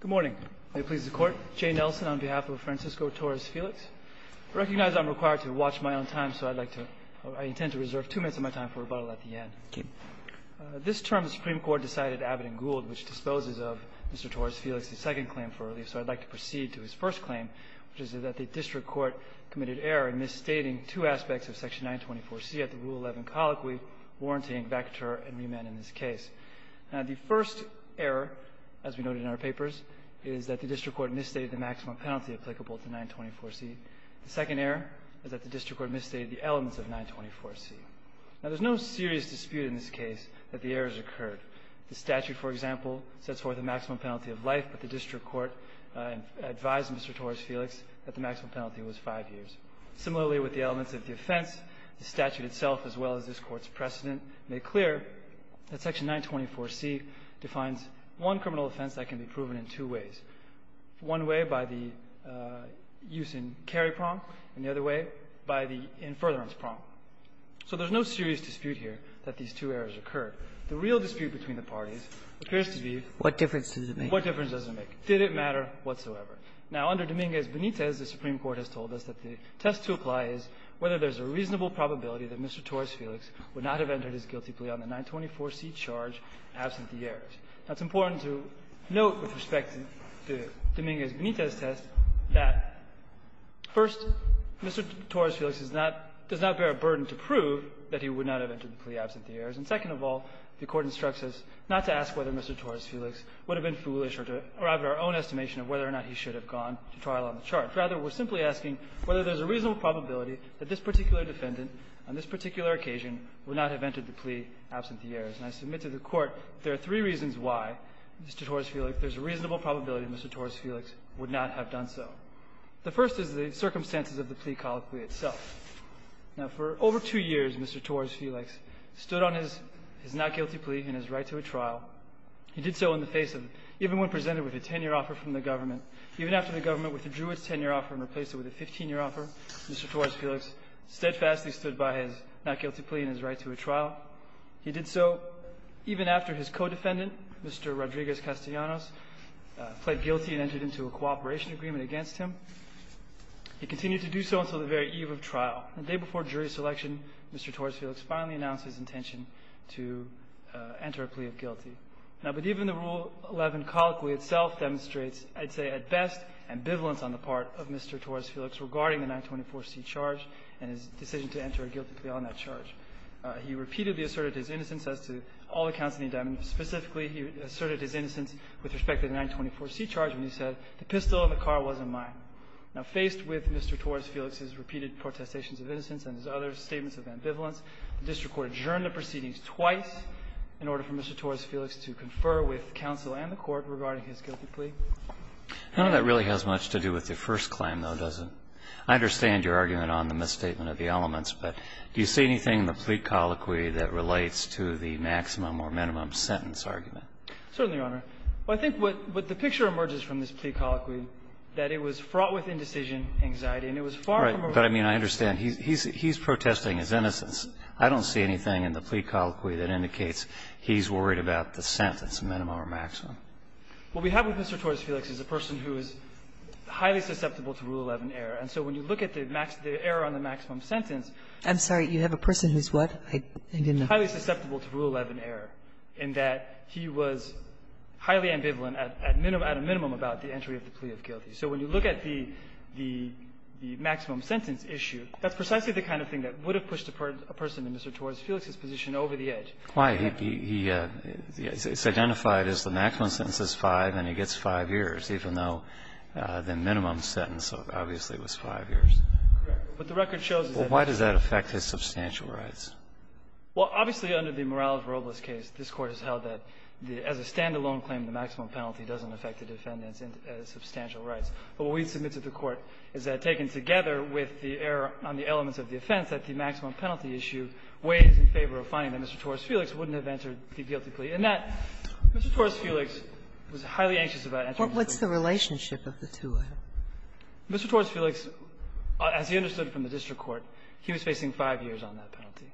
Good morning. It pleases the Court. Jay Nelson on behalf of Francisco Torres Felix. I recognize I'm required to watch my own time, so I intend to reserve two minutes of my time for rebuttal at the end. This term the Supreme Court decided Abbott and Gould, which disposes of Mr. Torres Felix's second claim for relief. So I'd like to proceed to his first claim, which is that the District Court committed error in misstating two aspects of Section 924C at the Rule 11 colloquy warranting vacateur and remand in this case. Now, the first error, as we noted in our papers, is that the District Court misstated the maximum penalty applicable to 924C. The second error is that the District Court misstated the elements of 924C. Now, there's no serious dispute in this case that the errors occurred. The statute, for example, sets forth a maximum penalty of life, but the District Court advised Mr. Torres Felix that the maximum penalty was five years. Similarly, with the elements of the offense, the statute itself, as well as this Court's precedent, made clear that Section 924C defines one criminal offense that can be proven in two ways, one way by the use in carry prong and the other way by the in furtherance prong. So there's no serious dispute here that these two errors occurred. The real dispute between the parties appears to be what difference does it make. Did it matter whatsoever? Now, under Dominguez-Benitez, the Supreme Court has told us that the test to apply is whether there's a reasonable probability that Mr. Torres Felix would not have entered his guilty plea on the 924C charge absent the errors. Now, it's important to note with respect to the Dominguez-Benitez test that, first, Mr. Torres Felix does not bear a burden to prove that he would not have entered the plea absent the errors, and second of all, the Court instructs us not to ask whether he should have gone to trial on the charge. Rather, we're simply asking whether there's a reasonable probability that this particular defendant on this particular occasion would not have entered the plea absent the errors. And I submit to the Court there are three reasons why, Mr. Torres Felix, there's a reasonable probability Mr. Torres Felix would not have done so. The first is the circumstances of the plea colloquy itself. Now, for over two years, Mr. Torres Felix stood on his not guilty plea and his right to a trial. He did so in the face of even when presented with a 10-year offer from the government. Even after the government withdrew its 10-year offer and replaced it with a 15-year offer, Mr. Torres Felix steadfastly stood by his not guilty plea and his right to a trial. He did so even after his co-defendant, Mr. Rodriguez-Castellanos, pled guilty and entered into a cooperation agreement against him. He continued to do so until the very eve of trial. The day before jury selection, Mr. Torres Felix finally announced his intention to enter a plea of guilty. Now, but even the Rule 11 colloquy itself demonstrates, I'd say at best, ambivalence on the part of Mr. Torres Felix regarding the 924C charge and his decision to enter a guilty plea on that charge. He repeatedly asserted his innocence as to all accounts in the indictment. Specifically, he asserted his innocence with respect to the 924C charge when he said the pistol in the car wasn't mine. Now, faced with Mr. Torres Felix's repeated protestations of innocence and his other statements of ambivalence, the district court adjourned the proceedings twice in order for Mr. Torres Felix to confer with counsel and the Court regarding his guilty plea. And that really has much to do with your first claim, though, doesn't it? I understand your argument on the misstatement of the elements, but do you see anything in the plea colloquy that relates to the maximum or minimum sentence argument? Certainly, Your Honor. Well, I think what the picture emerges from this plea colloquy that it was fraught with indecision, anxiety, and it was far from a rule of thumb. All right. But, I mean, I understand. He's protesting his innocence. I don't see anything in the plea colloquy that indicates he's worried about the sentence, minimum or maximum. What we have with Mr. Torres Felix is a person who is highly susceptible to Rule 11 error. And so when you look at the error on the maximum sentence --" I'm sorry, you have a person who's what? I didn't know. Highly susceptible to Rule 11 error in that he was highly ambivalent at a minimum about the entry of the plea of guilt. So when you look at the maximum sentence issue, that's precisely the kind of thing that would have pushed a person in Mr. Torres Felix's position over the edge. Why? It's identified as the maximum sentence is 5, and he gets 5 years, even though the minimum sentence obviously was 5 years. Correct. But the record shows that. Well, why does that affect his substantial rights? Well, obviously, under the Morales-Robles case, this Court has held that as a stand-alone claim, the maximum penalty doesn't affect the defendant's substantial rights. But what we submit to the Court is that, taken together with the error on the elements of the offense, that the maximum penalty issue weighs in favor of finding that Mr. Torres Felix wouldn't have entered the guilty plea, and that Mr. Torres Felix was highly anxious about entering the plea. What's the relationship of the two? Mr. Torres Felix, as you understood from the district court, he was facing 5 years on that penalty.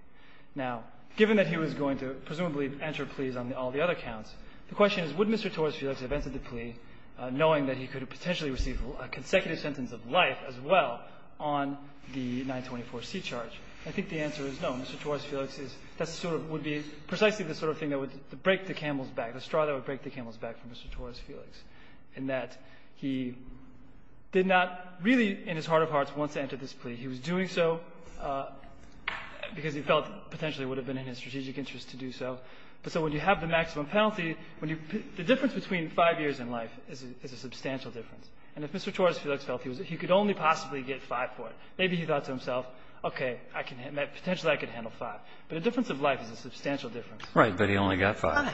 Now, given that he was going to presumably enter pleas on all the other counts, the question is, would Mr. Torres Felix have entered the plea knowing that he could have potentially received a consecutive sentence of life as well on the 924C charge? I think the answer is no. Mr. Torres Felix is the sort of – would be precisely the sort of thing that would break the camel's back, the straw that would break the camel's back for Mr. Torres Felix, in that he did not really in his heart of hearts want to enter this plea. He was doing so because he felt it potentially would have been in his strategic interest to do so. But so when you have the maximum penalty, when you – the difference between 5 years and life is a substantial difference. And if Mr. Torres Felix felt he was – he could only possibly get 5 for it, maybe he thought to himself, okay, I can – potentially I could handle 5. But the difference of life is a substantial difference. Right. But he only got 5.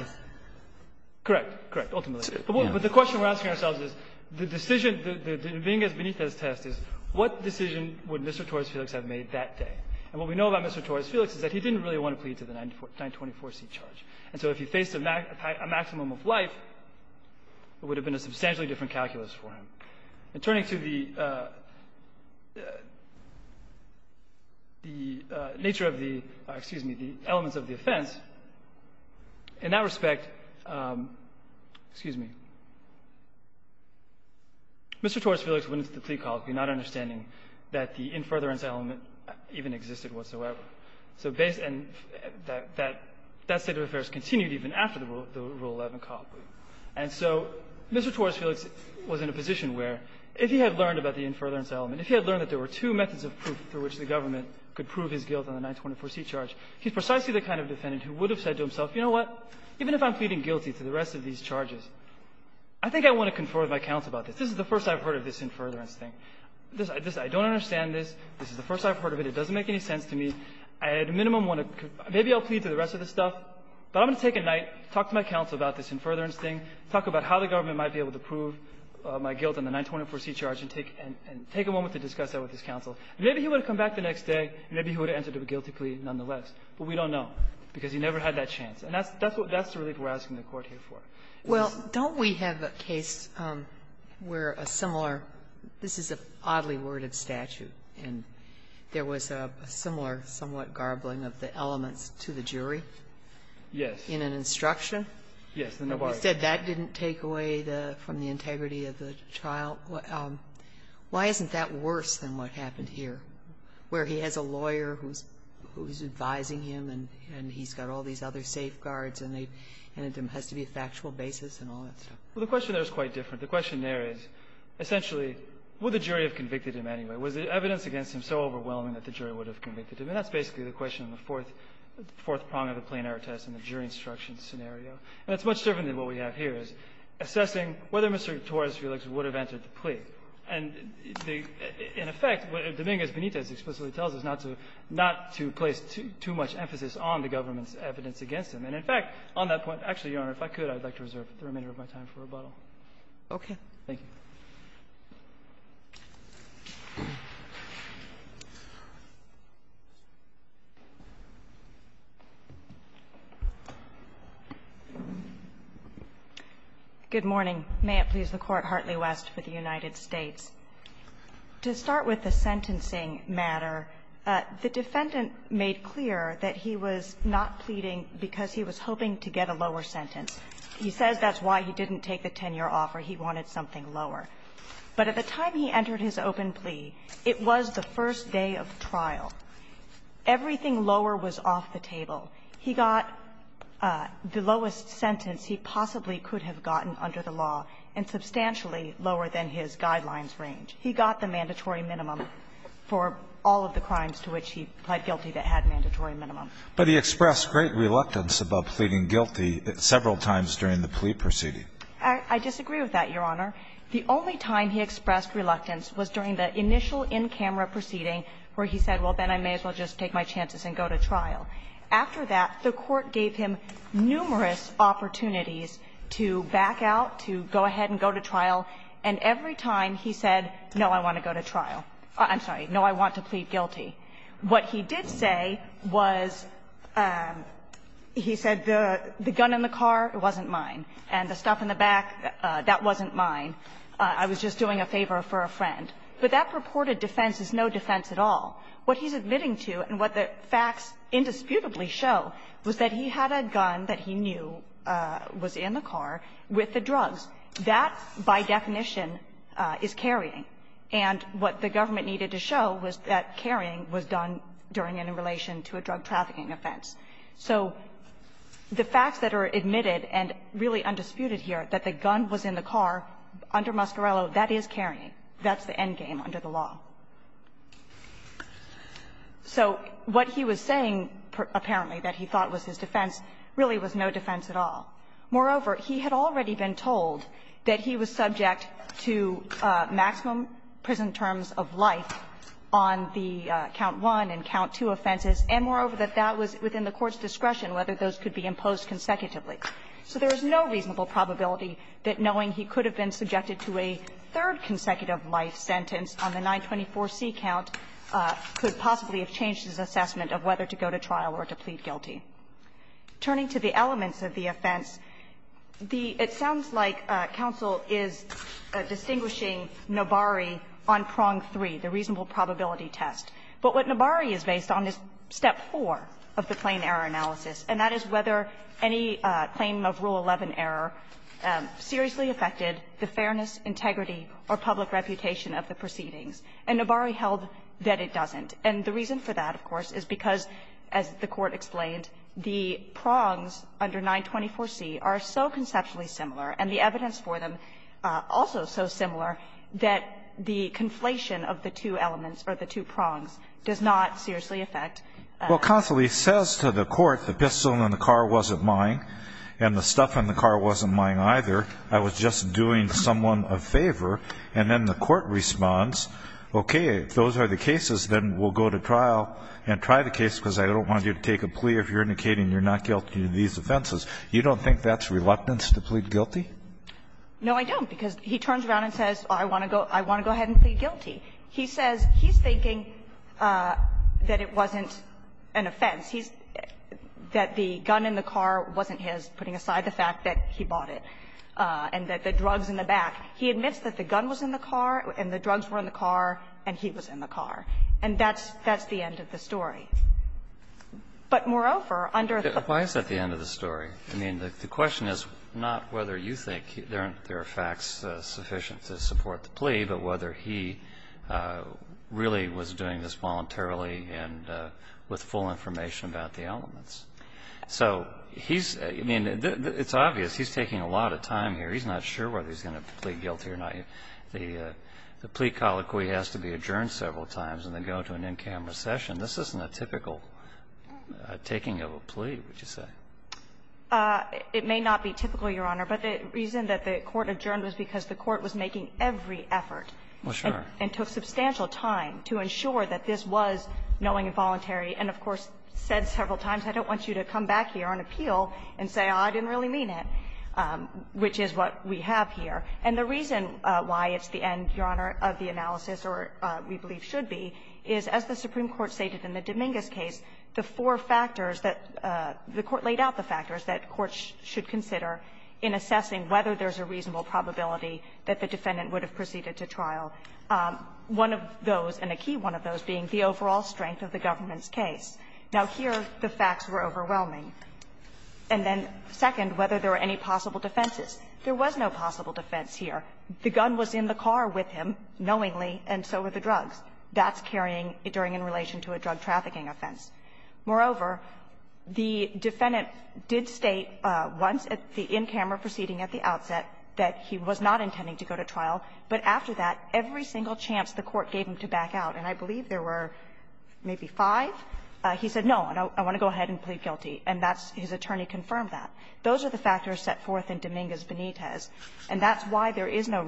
Correct. Correct. Ultimately. But the question we're asking ourselves is, the decision – the Nvingas-Benitez test is, what decision would Mr. Torres Felix have made that day? And what we know about Mr. Torres Felix is that he didn't really want to plead to the 924C charge. And so if he faced a maximum of life, it would have been a substantially different calculus for him. And turning to the nature of the – excuse me, the elements of the offense, in that respect – excuse me – Mr. Torres Felix went into the plea call not understanding that the infertile element even existed whatsoever. So based – and that State of Affairs continued even after the Rule 11 copy. And so Mr. Torres Felix was in a position where, if he had learned about the infertile element, if he had learned that there were two methods of proof through which the government could prove his guilt on the 924C charge, he's precisely the kind of defendant who would have said to himself, you know what, even if I'm pleading guilty to the rest of these charges, I think I want to confer with my counsel about this. This is the first I've heard of this infertile thing. I don't understand this. This is the first I've heard of it. It doesn't make any sense to me. I at a minimum want to – maybe I'll plead to the rest of this stuff, but I'm going to take a night, talk to my counsel about this infertile thing, talk about how the government might be able to prove my guilt on the 924C charge, and take a moment to discuss that with his counsel. And maybe he would have come back the next day, and maybe he would have answered a guilty plea nonetheless. But we don't know, because he never had that chance. And that's the relief we're asking the Court here for. Sotomayor Well, don't we have a case where a similar – this is an oddly worded statute, and there was a similar, somewhat garbling of the elements to the jury? Gershengorn Yes. Sotomayor In an instruction? Gershengorn Yes. Sotomayor You said that didn't take away from the integrity of the trial. Why isn't that worse than what happened here, where he has a lawyer who's advising him, and he's got all these other safeguards, and it has to be a factual basis and all that stuff? Gershengorn Well, the question there is quite different. The question there is, essentially, would the jury have convicted him anyway? Was the evidence against him so overwhelming that the jury would have convicted him? And that's basically the question on the fourth – the fourth prong of the plain error test in the jury instruction scenario. And it's much different than what we have here, is assessing whether Mr. Torres-Felix would have entered the plea. And the – in effect, Dominguez-Benitez explicitly tells us not to – not to place too much emphasis on the government's evidence against him. And, in fact, on that point – actually, Your Honor, if I could, I'd like to reserve the remainder of my time for rebuttal. Kagan Okay. Gershengorn Thank you. Kagan Good morning. May it please the Court. Hartley West for the United States. To start with the sentencing matter, the defendant made clear that he was not pleading because he was hoping to get a lower sentence. He says that's why he didn't take the 10-year offer. He wanted something lower. But at the time he entered his open plea, it was the first day of trial. Everything lower was off the table. He got the lowest sentence he possibly could have gotten under the law and substantially lower than his guidelines range. He got the mandatory minimum for all of the crimes to which he pled guilty that had mandatory minimum. But he expressed great reluctance about pleading guilty several times during the plea proceeding. Gershengorn I disagree with that, Your Honor. The only time he expressed reluctance was during the initial in-camera proceeding where he said, well, then I may as well just take my chances and go to trial. After that, the Court gave him numerous opportunities to back out, to go ahead and go to trial, and every time he said, no, I want to go to trial – I'm sorry, no, I want to plead guilty. What he did say was he said the gun in the car, it wasn't mine, and the stuff in the back, that wasn't mine. I was just doing a favor for a friend. But that purported defense is no defense at all. What he's admitting to and what the facts indisputably show was that he had a gun that he knew was in the car with the drugs. That, by definition, is carrying. And what the government needed to show was that carrying was done during and in relation to a drug trafficking offense. So the facts that are admitted and really undisputed here, that the gun was in the car under Muscarello, that is carrying. That's the endgame under the law. So what he was saying, apparently, that he thought was his defense, really was no defense at all. Moreover, he had already been told that he was subject to maximum prison terms of life on the count one and count two offenses, and, moreover, that that was within the court's discretion whether those could be imposed consecutively. So there is no reasonable probability that knowing he could have been subjected to a third consecutive life sentence on the 924C count could possibly have changed his assessment of whether to go to trial or to plead guilty. Turning to the elements of the offense, the – it sounds like counsel is distinguishing Nobari on prong three, the reasonable probability test. But what Nobari is based on is step four of the claim error analysis, and that is whether any claim of Rule 11 error seriously affected the fairness, integrity, or public reputation of the proceedings. And Nobari held that it doesn't. And the reason for that, of course, is because, as the Court explained, the prongs under 924C are so conceptually similar and the evidence for them also so similar that the conflation of the two elements or the two prongs does not seriously affect fairness. Well, counsel, he says to the court, the pistol in the car wasn't mine and the stuff in the car wasn't mine either. I was just doing someone a favor. And then the court responds, okay, if those are the cases, then we'll go to trial and try the case because I don't want you to take a plea if you're indicating you're not guilty of these offenses. You don't think that's reluctance to plead guilty? No, I don't, because he turns around and says, I want to go ahead and plead guilty. He says he's thinking that it wasn't an offense. He's – that the gun in the car wasn't his, putting aside the fact that he bought it, and that the drugs in the back. He admits that the gun was in the car and the drugs were in the car and he was in the car, and that's the end of the story. But moreover, under the question of whether he was doing this voluntarily and with full information about the elements. So he's – I mean, it's obvious he's taking a lot of time here. guilty. The plea colloquy has to be adjourned several times and then go to an in-camera session. This isn't a typical taking of a plea, would you say? It may not be typical, Your Honor, but the reason that the court adjourned was because the court was making every effort. Well, sure. And took substantial time to ensure that this was knowing and voluntary and, of course, said several times, I don't want you to come back here on appeal and say, oh, I didn't really mean it, which is what we have here. And the reason why it's the end, Your Honor, of the analysis, or we believe should be, is as the Supreme Court stated in the Dominguez case, the four factors that the court laid out the factors that courts should consider in assessing whether there's a reasonable probability that the defendant would have proceeded to trial, one of those, and a key one of those being the overall strength of the government's case. Now, here the facts were overwhelming. And then, second, whether there were any possible defenses. There was no possible defense here. The gun was in the car with him, knowingly, and so were the drugs. That's carrying during in relation to a drug trafficking offense. Moreover, the defendant did state once at the in-camera proceeding at the outset that he was not intending to go to trial, but after that, every single chance the court gave him to back out, and I believe there were maybe five, he said, no, I want to go ahead and plead guilty, and that's his attorney confirmed that. Those are the factors set forth in Dominguez-Benitez, and that's why there is no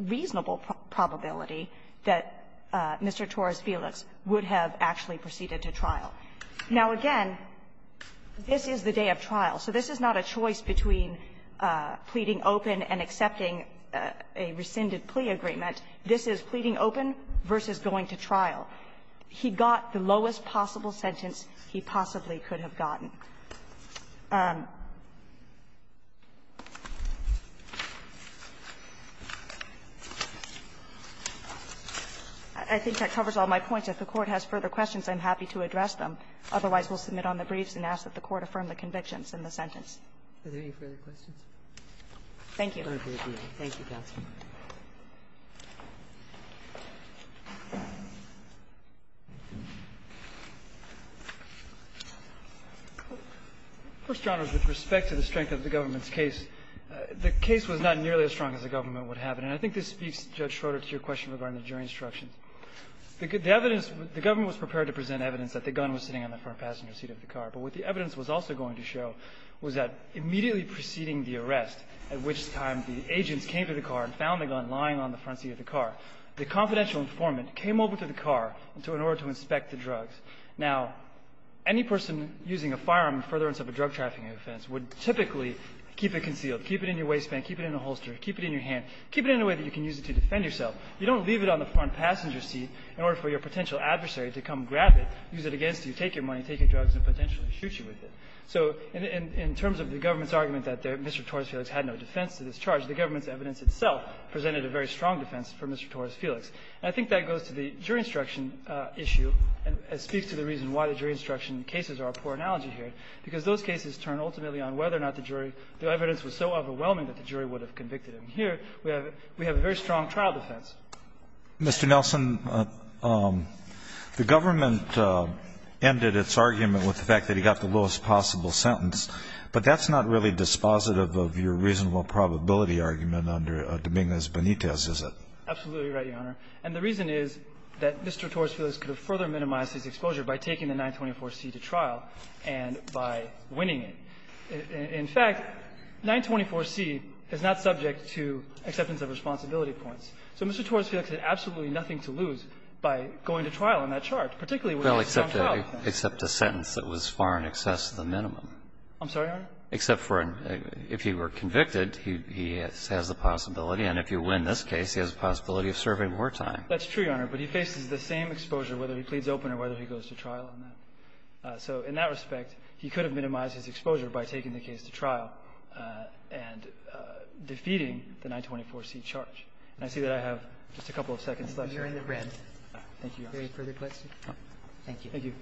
reasonable probability that Mr. Torres-Felix would have actually proceeded to trial. Now, again, this is the day of trial, so this is not a choice between pleading open and accepting a rescinded plea agreement. This is pleading open versus going to trial. He got the lowest possible sentence he possibly could have gotten. I think that covers all my points. If the Court has further questions, I'm happy to address them. Otherwise, we'll submit on the briefs and ask that the Court affirm the convictions in the sentence. Ginsburg. Are there any further questions? Thank you. Thank you, Counsel. First, Your Honor, with respect to the strength of the government's case, the case was not nearly as strong as the government would have it, and I think this speaks, Judge Schroeder, to your question regarding the jury instruction. The evidence the government was prepared to present evidence that the gun was sitting on the front passenger seat of the car, but what the evidence was also going to show was that immediately preceding the arrest, at which time the agents came to the car and found the gun lying on the front seat of the car, the confidential informant came over to the car in order to inspect the drugs. Now, any person using a firearm in furtherance of a drug trafficking offense would typically keep it concealed, keep it in your waistband, keep it in a holster, keep it in your hand, keep it in a way that you can use it to defend yourself. You don't leave it on the front passenger seat in order for your potential adversary to come grab it, use it against you, take your money, take your drugs, and potentially shoot you with it. So in terms of the government's argument that Mr. Torres-Felix had no defense to this charge, the government's evidence itself presented a very strong defense for Mr. Torres-Felix. And I think that goes to the jury instruction issue and speaks to the reason why the jury instruction cases are a poor analogy here, because those cases turn ultimately on whether or not the jury, the evidence was so overwhelming that the jury would have convicted him. Here, we have a very strong trial defense. Mr. Nelson, the government ended its argument with the fact that he got the lowest possible sentence, but that's not really dispositive of your reasonable probability argument under Dominguez-Bonitez, is it? Absolutely right, Your Honor. And the reason is that Mr. Torres-Felix could have further minimized his exposure by taking the 924C to trial and by winning it. In fact, 924C is not subject to acceptance of responsibility points. So Mr. Torres-Felix had absolutely nothing to lose by going to trial on that charge, particularly when it was a strong trial defense. Well, except a sentence that was far in excess of the minimum. I'm sorry, Your Honor? Except for if he were convicted, he has the possibility, and if you win this case, he has the possibility of serving more time. That's true, Your Honor, but he faces the same exposure whether he pleads open or whether he goes to trial on that. So in that respect, he could have minimized his exposure by taking the case to trial and defeating the 924C charge. And I see that I have just a couple of seconds left. You're in the red. Thank you, Your Honor. Is there any further questions? Thank you. Thank you.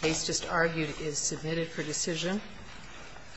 The case just argued is submitted for decision.